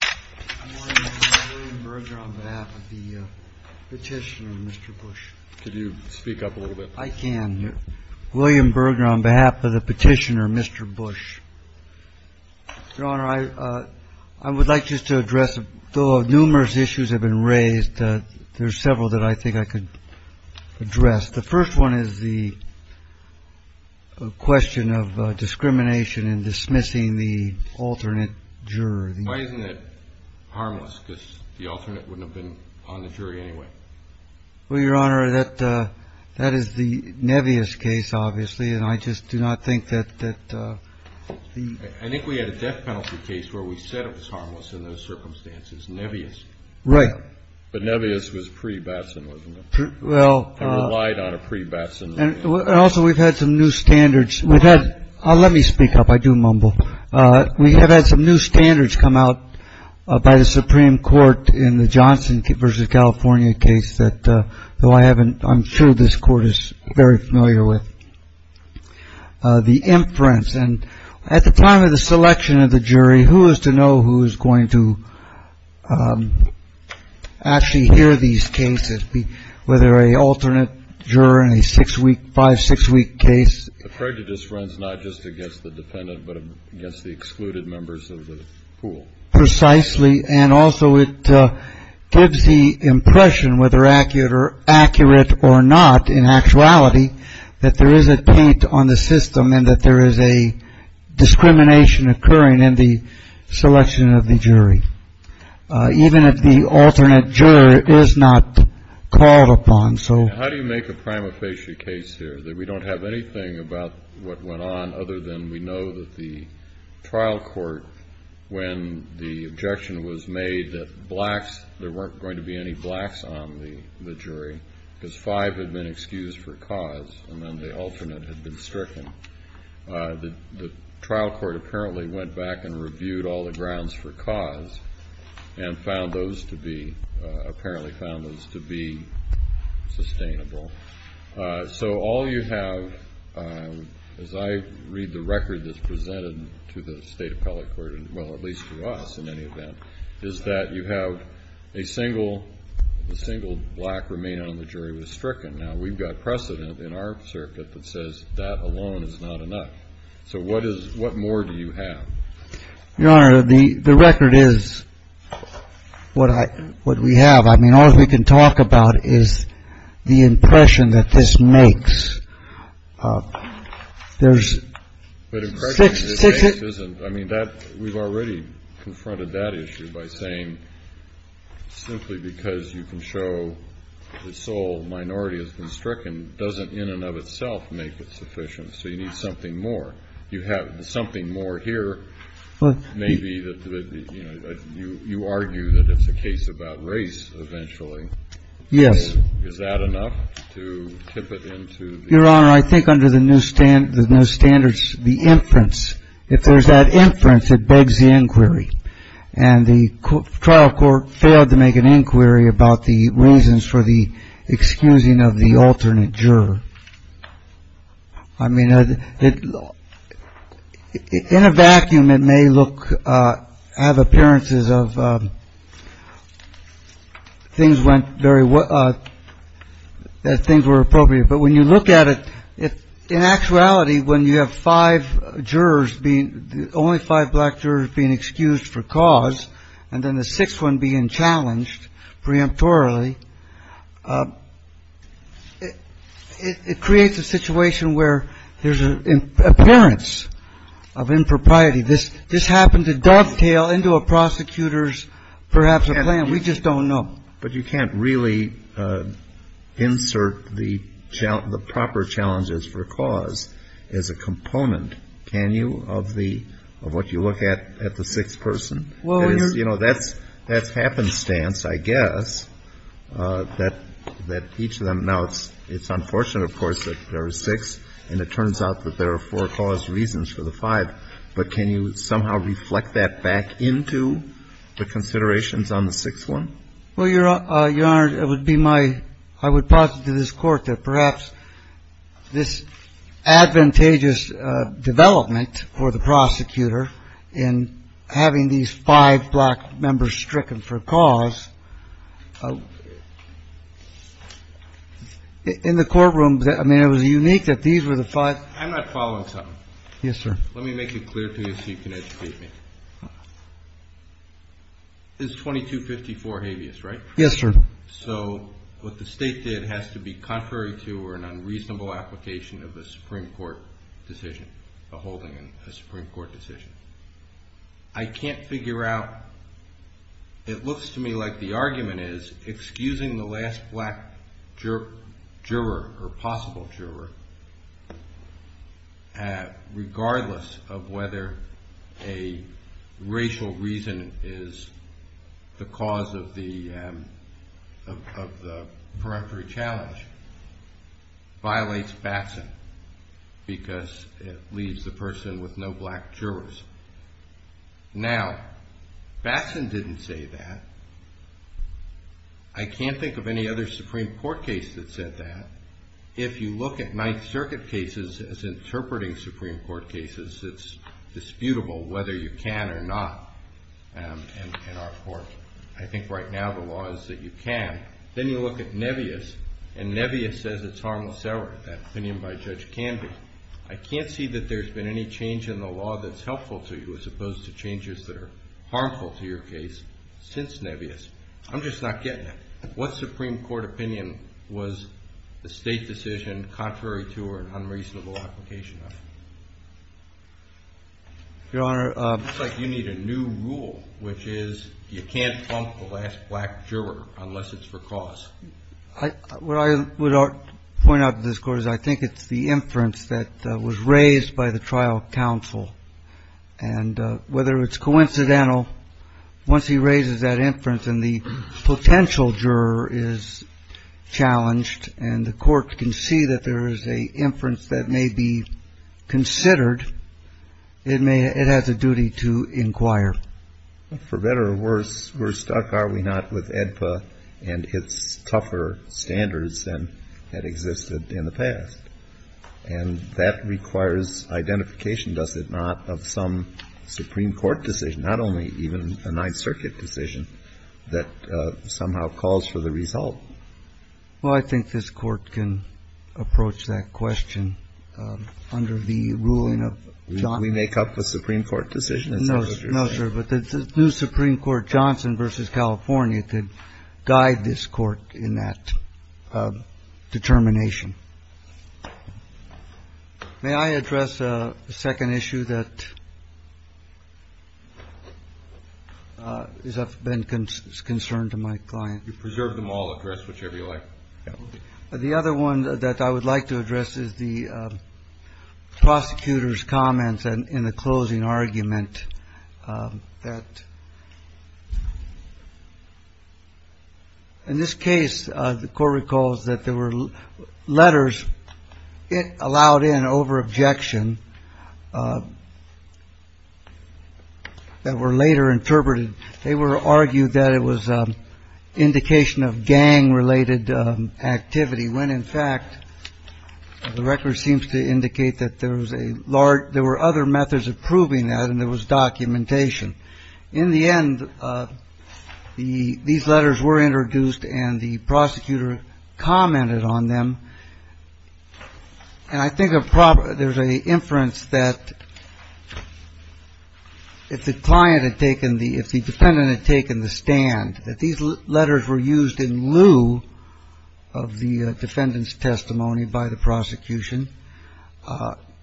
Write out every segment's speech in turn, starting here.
I'm William Berger on behalf of the petitioner, Mr. Bush. Could you speak up a little bit? I can. William Berger on behalf of the petitioner, Mr. Bush. Your Honor, I would like just to address, though numerous issues have been raised, there are several that I think I could address. The first one is the question of discrimination in dismissing the alternate juror. Why isn't it harmless, because the alternate wouldn't have been on the jury anyway? Well, Your Honor, that is the Nevius case, obviously, and I just do not think that the – I think we had a death penalty case where we said it was harmless in those circumstances. Nevius. Right. But Nevius was pre-Batson, wasn't it? Well – It relied on a pre-Batson. And also we've had some new standards. Let me speak up. I do mumble. We have had some new standards come out by the Supreme Court in the Johnson v. California case that, though I haven't – I'm sure this Court is very familiar with. The inference. And at the time of the selection of the jury, who is to know who is going to actually hear these cases, whether a alternate juror in a six-week, five-, six-week case? The prejudice runs not just against the defendant but against the excluded members of the pool. Precisely. And also it gives the impression, whether accurate or not, in actuality, that there is a taint on the system and that there is a discrimination occurring in the selection of the jury, even if the alternate juror is not called upon. How do you make a prima facie case here that we don't have anything about what went on other than we know that the trial court, when the objection was made that blacks, there weren't going to be any blacks on the jury because five had been excused for cause and then the alternate had been stricken, the trial court apparently went back and reviewed all the grounds for cause and found those to be, apparently found those to be sustainable. So all you have, as I read the record that's presented to the State Appellate Court, well, at least to us in any event, is that you have a single, a single black remaining on the jury was stricken. Now, we've got precedent in our circuit that says that alone is not enough. So what is, what more do you have? Your Honor, the record is what I, what we have. I mean, all we can talk about is the impression that this makes. There's six. I mean, that, we've already confronted that issue by saying simply because you can show the sole minority has been stricken doesn't in and of itself make it sufficient. So you need something more. You have something more here maybe that, you know, you argue that it's a case about race eventually. Yes. Is that enough to tip it into the... Your Honor, I think under the new standards, the inference, if there's that inference it begs the inquiry. And the trial court failed to make an inquiry about the reasons for the excusing of the alternate juror. I mean, in a vacuum, it may look, have appearances of things went very well, that things were appropriate. But when you look at it, in actuality, when you have five jurors being the only five black jurors being excused for cause, and then the sixth one being challenged preemptorily, it creates a situation where there's an appearance of impropriety. This happened to dovetail into a prosecutor's perhaps a plan. We just don't know. But you can't really insert the proper challenges for cause as a component, can you, of the, of what you look at, at the sixth person? Because, you know, that's happenstance, I guess, that each of them. Now, it's unfortunate, of course, that there are six. And it turns out that there are four cause reasons for the five. But can you somehow reflect that back into the considerations on the sixth one? Well, Your Honor, it would be my, I would posit to this Court that perhaps this advantageous development for the prosecutor in having these five black members stricken for cause, in the courtroom, I mean, it was unique that these were the five. I'm not following something. Yes, sir. Let me make it clear to you so you can educate me. This 2254 habeas, right? Yes, sir. So what the State did has to be contrary to or an unreasonable application of a Supreme Court decision, a holding a Supreme Court decision. I can't figure out, it looks to me like the argument is excusing the last black juror or possible juror, regardless of whether a racial reason is the cause of the peremptory challenge, violates Batson because it leaves the person with no black jurors. Now, Batson didn't say that. I can't think of any other Supreme Court case that said that. If you look at Ninth Circuit cases as interpreting Supreme Court cases, it's disputable whether you can or not in our court. I think right now the law is that you can. Then you look at Nebias, and Nebias says it's harmless error, that opinion by Judge Canby. I can't see that there's been any change in the law that's helpful to you, as opposed to changes that are harmful to your case since Nebias. I'm just not getting it. What Supreme Court opinion was the State decision contrary to or an unreasonable application of? Your Honor. It's like you need a new rule, which is you can't trump the last black juror unless it's for cause. What I would point out to this Court is I think it's the inference that was raised by the trial counsel. And whether it's coincidental, once he raises that inference and the potential juror is challenged and the court can see that there is an inference that may be considered, it may — it has a duty to inquire. For better or worse, we're stuck, are we not, with AEDPA and its tougher standards than had existed in the past. And that requires identification, does it not, of some Supreme Court decision, not only even a Ninth Circuit decision, that somehow calls for the result. Well, I think this Court can approach that question under the ruling of Johnson. We make up a Supreme Court decision. No, no, sir. But the new Supreme Court, Johnson v. California, could guide this Court in that determination. May I address a second issue that has been a concern to my client? You preserve them all. Address whichever you like. The other one that I would like to address is the prosecutor's comments in the closing argument that in this case, the court recalls that there were letters it allowed in over objection that were later interpreted. They were argued that it was an indication of gang-related activity when, in fact, the record seems to indicate that there was a large — there were other methods of proving that and there was documentation. In the end, these letters were introduced and the prosecutor commented on them. And I think there's an inference that if the client had taken the — if the defendant had taken the stand, that these letters were used in lieu of the defendant's testimony by the prosecution,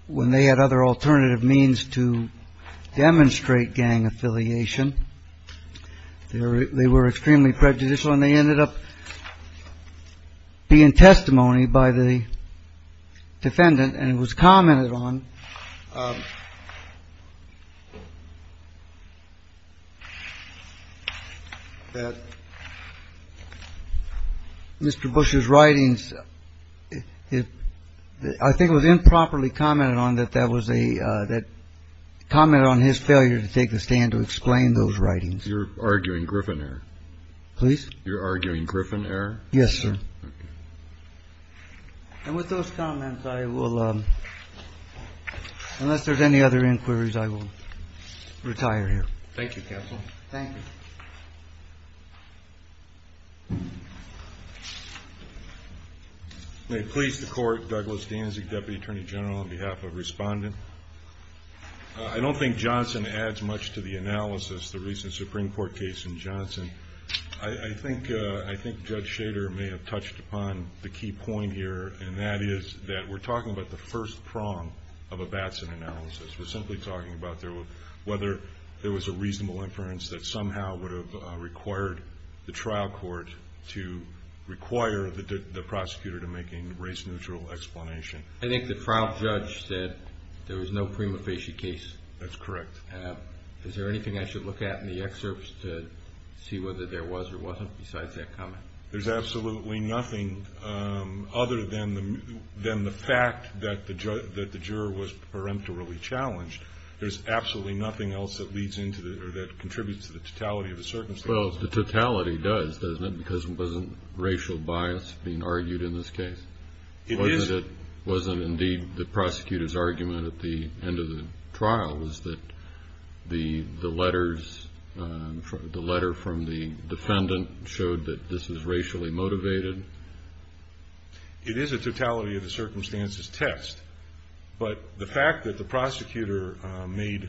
when they had other alternative means to demonstrate gang affiliation, they were extremely prejudicial and they ended up being testimony by the defendant. And it was commented on that Mr. Bush's writings — I think it was improperly commented on that that was a — that commented on his failure to take the stand to explain those writings. You're arguing Griffin error? Please. You're arguing Griffin error? Yes, sir. And with those comments, I will — unless there's any other inquiries, I will retire here. Thank you, counsel. Thank you. May it please the Court, Douglas Danzig, Deputy Attorney General, on behalf of Respondent. I don't think Johnson adds much to the analysis, the recent Supreme Court case in Johnson. I think Judge Shader may have touched upon the key point here, and that is that we're talking about the first prong of a Batson analysis. We're simply talking about whether there was a reasonable inference that somehow would have required the trial court to require the prosecutor to make a race-neutral explanation. I think the trial judge said there was no prima facie case. That's correct. Is there anything I should look at in the excerpts to see whether there was or wasn't besides that comment? There's absolutely nothing other than the fact that the juror was peremptorily challenged. There's absolutely nothing else that leads into — or that contributes to the totality of the circumstance. Well, the totality does, doesn't it, because it wasn't racial bias being argued in this case. It is. It wasn't, indeed, the prosecutor's argument at the end of the trial, was that the letter from the defendant showed that this was racially motivated. It is a totality-of-the-circumstances test, but the fact that the prosecutor made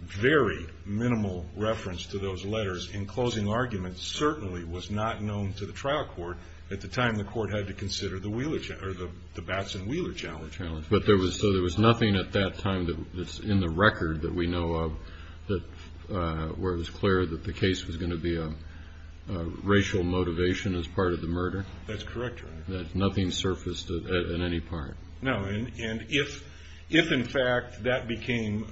very minimal reference to those letters in closing arguments certainly was not known to the trial court at the time the court had to consider the Batson-Wheeler challenge. So there was nothing at that time that's in the record that we know of where it was clear that the case was going to be a racial motivation as part of the murder? That's correct, Your Honor. Nothing surfaced in any part? No. And if, in fact, that became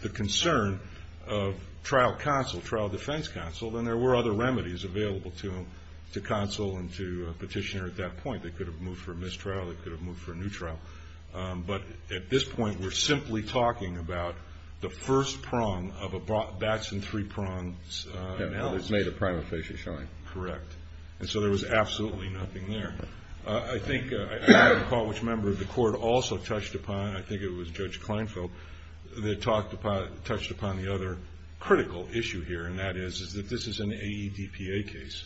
the concern of trial counsel, trial defense counsel, then there were other remedies available to them, to counsel and to a petitioner at that point. They could have moved for a mistrial. They could have moved for a new trial. But at this point, we're simply talking about the first prong of a Batson three-prong analogy. It's made a prima facie showing. Correct. And so there was absolutely nothing there. I think I recall which member of the court also touched upon, I think it was Judge Kleinfeld, that touched upon the other critical issue here, and that is that this is an AEDPA case,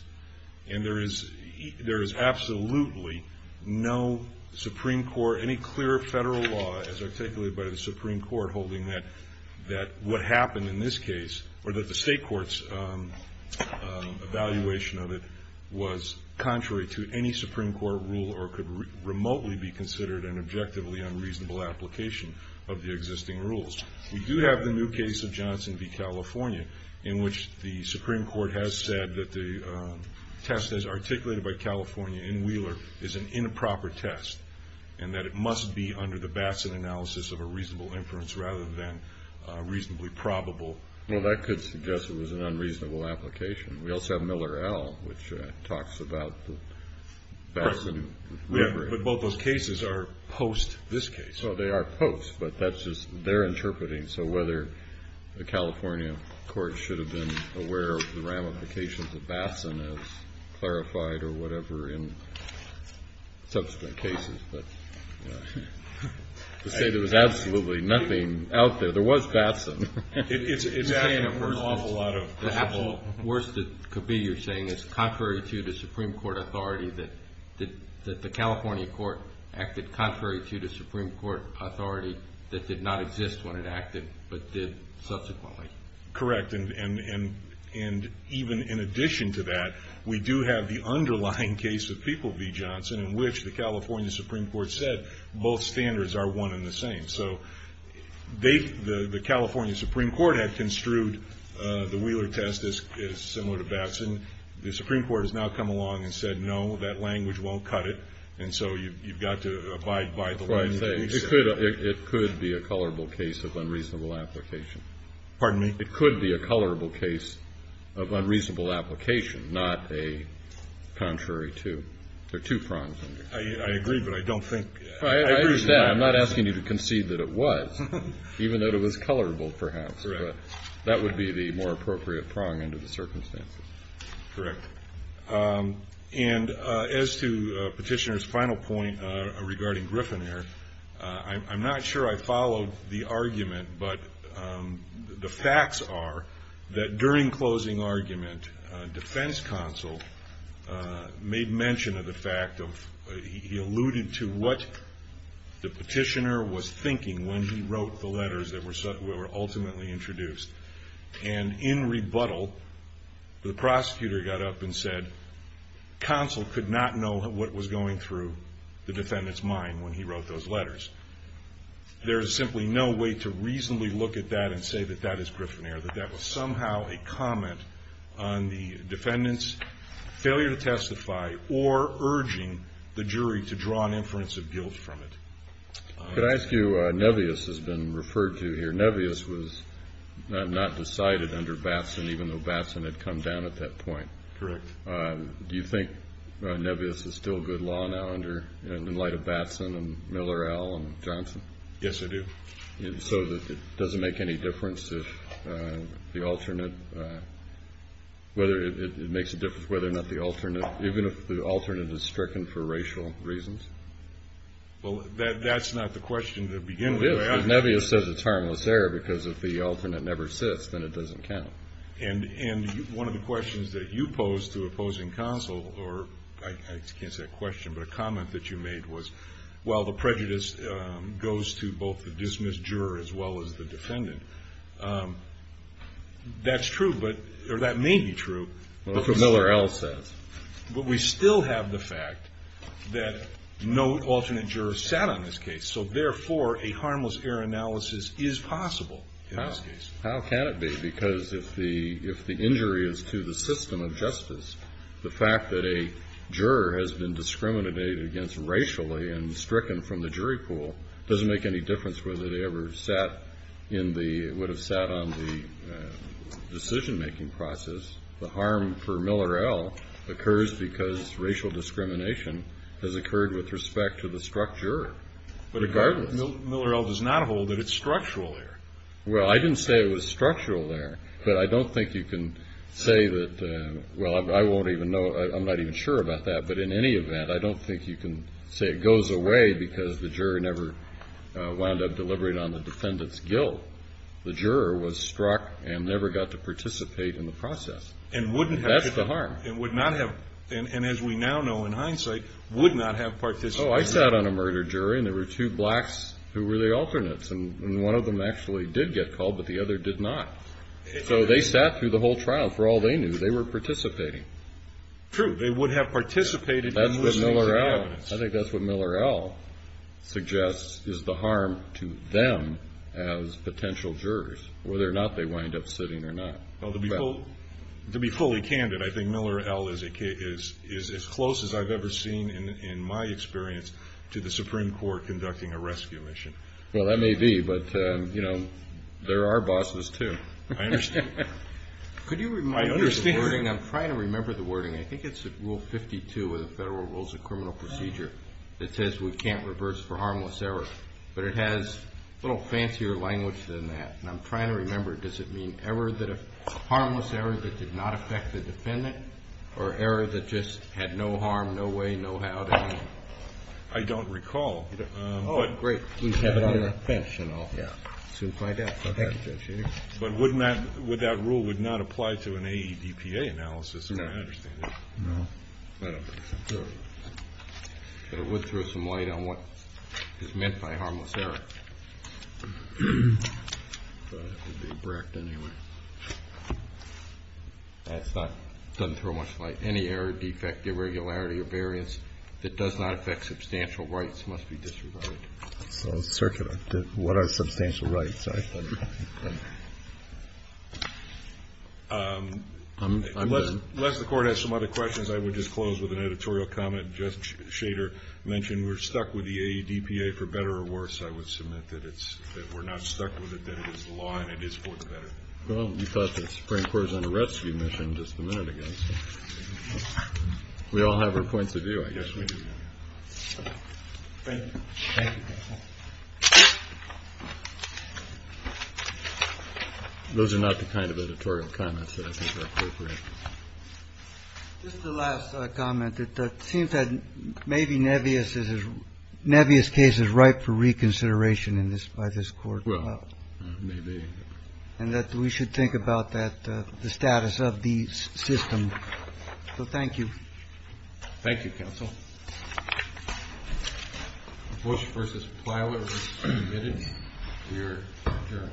and there is absolutely no Supreme Court, any clear federal law, as articulated by the Supreme Court, holding that what happened in this case, or that the state court's evaluation of it, was contrary to any Supreme Court rule or could remotely be considered an objectively unreasonable application of the existing rules. We do have the new case of Johnson v. California, in which the Supreme Court has said that the test as articulated by California in Wheeler is an improper test and that it must be under the Batson analysis of a reasonable inference rather than reasonably probable. Well, that could suggest it was an unreasonable application. We also have Miller et al., which talks about the Batson. But both those cases are post this case. Well, they are post, but that's just their interpreting. So whether the California court should have been aware of the ramifications of Batson as clarified or whatever in subsequent cases, but to say there was absolutely nothing out there. There was Batson. It's adding an awful lot of trouble. The absolute worst it could be, you're saying, is contrary to the Supreme Court authority that the California court acted contrary to the Supreme Court authority that did not exist when it acted, but did subsequently. Correct. And even in addition to that, we do have the underlying case of People v. Johnson, in which the California Supreme Court said both standards are one and the same. So the California Supreme Court had construed the Wheeler test as similar to Batson. The Supreme Court has now come along and said, no, that language won't cut it. And so you've got to abide by the law. It could be a colorable case of unreasonable application. Pardon me? It could be a colorable case of unreasonable application, not a contrary to. There are two prongs. I agree, but I don't think. I understand. I'm not asking you to concede that it was, even though it was colorable perhaps. Correct. But that would be the more appropriate prong under the circumstances. Correct. And as to Petitioner's final point regarding Griffin there, I'm not sure I followed the argument, but the facts are that during closing argument, defense counsel made mention of the fact of he alluded to what the petitioner was thinking when he wrote the letters that were ultimately introduced. And in rebuttal, the prosecutor got up and said, counsel could not know what was going through the defendant's mind when he wrote those letters. There is simply no way to reasonably look at that and say that that is Griffin there, that that was somehow a comment on the defendant's failure to testify or urging the jury to draw an inference of guilt from it. Could I ask you, Nevis has been referred to here. Nevis was not decided under Batson even though Batson had come down at that point. Correct. Do you think Nevis is still good law now in light of Batson and Miller, Al, and Johnson? Yes, I do. So it doesn't make any difference if the alternate, whether it makes a difference, even if the alternate is stricken for racial reasons? Well, that's not the question to begin with. Nevis says it's harmless error because if the alternate never sits, then it doesn't count. And one of the questions that you posed to opposing counsel, or I can't say a question but a comment that you made was, well, the prejudice goes to both the dismissed juror as well as the defendant. That's true, or that may be true. That's what Miller, Al, says. But we still have the fact that no alternate juror sat on this case. So, therefore, a harmless error analysis is possible in this case. How can it be? Because if the injury is to the system of justice, the fact that a juror has been discriminated against racially and stricken from the jury pool doesn't make any difference whether they would have sat on the decision-making process. The harm for Miller, Al occurs because racial discrimination has occurred with respect to the struck juror. Regardless. Miller, Al does not hold that it's structural there. Well, I didn't say it was structural there. But I don't think you can say that, well, I won't even know, I'm not even sure about that. But in any event, I don't think you can say it goes away because the juror never wound up deliberating on the defendant's guilt. The juror was struck and never got to participate in the process. And wouldn't have. That's the harm. And would not have. And as we now know in hindsight, would not have participated. Oh, I sat on a murder jury, and there were two blacks who were the alternates. And one of them actually did get called, but the other did not. So they sat through the whole trial. For all they knew, they were participating. True. They would have participated in listening to the evidence. I think that's what Miller, Al suggests is the harm to them as potential jurors, whether or not they wind up sitting or not. Well, to be fully candid, I think Miller, Al is as close as I've ever seen in my experience to the Supreme Court conducting a rescue mission. Well, that may be, but, you know, there are bosses, too. I understand. Could you remind me of the wording? I'm trying to remember the wording. I think it's Rule 52 of the Federal Rules of Criminal Procedure that says we can't reverse for harmless error. But it has a little fancier language than that. I'm trying to remember. Does it mean harmless error that did not affect the defendant or error that just had no harm, no way, no how? I don't recall. Great. We have it on the bench, and I'll soon find out. Thank you, Judge. But would that rule not apply to an AEDPA analysis? No. I don't think so. But it would throw some light on what is meant by harmless error. But it would be bracked anyway. It doesn't throw much light. Any error, defect, irregularity, or variance that does not affect substantial rights must be disregarded. So what are substantial rights? Unless the Court has some other questions, I would just close with an editorial comment. If I could just, Shader mentioned, we're stuck with the AEDPA for better or worse, I would submit that it's we're not stuck with it, that it is law, and it is for the better. Well, we thought the Supreme Court was on a rescue mission just a minute ago. We all have our points of view, I guess we do. Thank you. Thank you. Those are not the kind of editorial comments that I think are appropriate. Just a last comment. It seems that maybe Nebbias' case is ripe for reconsideration by this Court. Well, maybe. And that we should think about the status of the system. So thank you. Thank you, Counsel. Bush v. Plywood was submitted to your jury.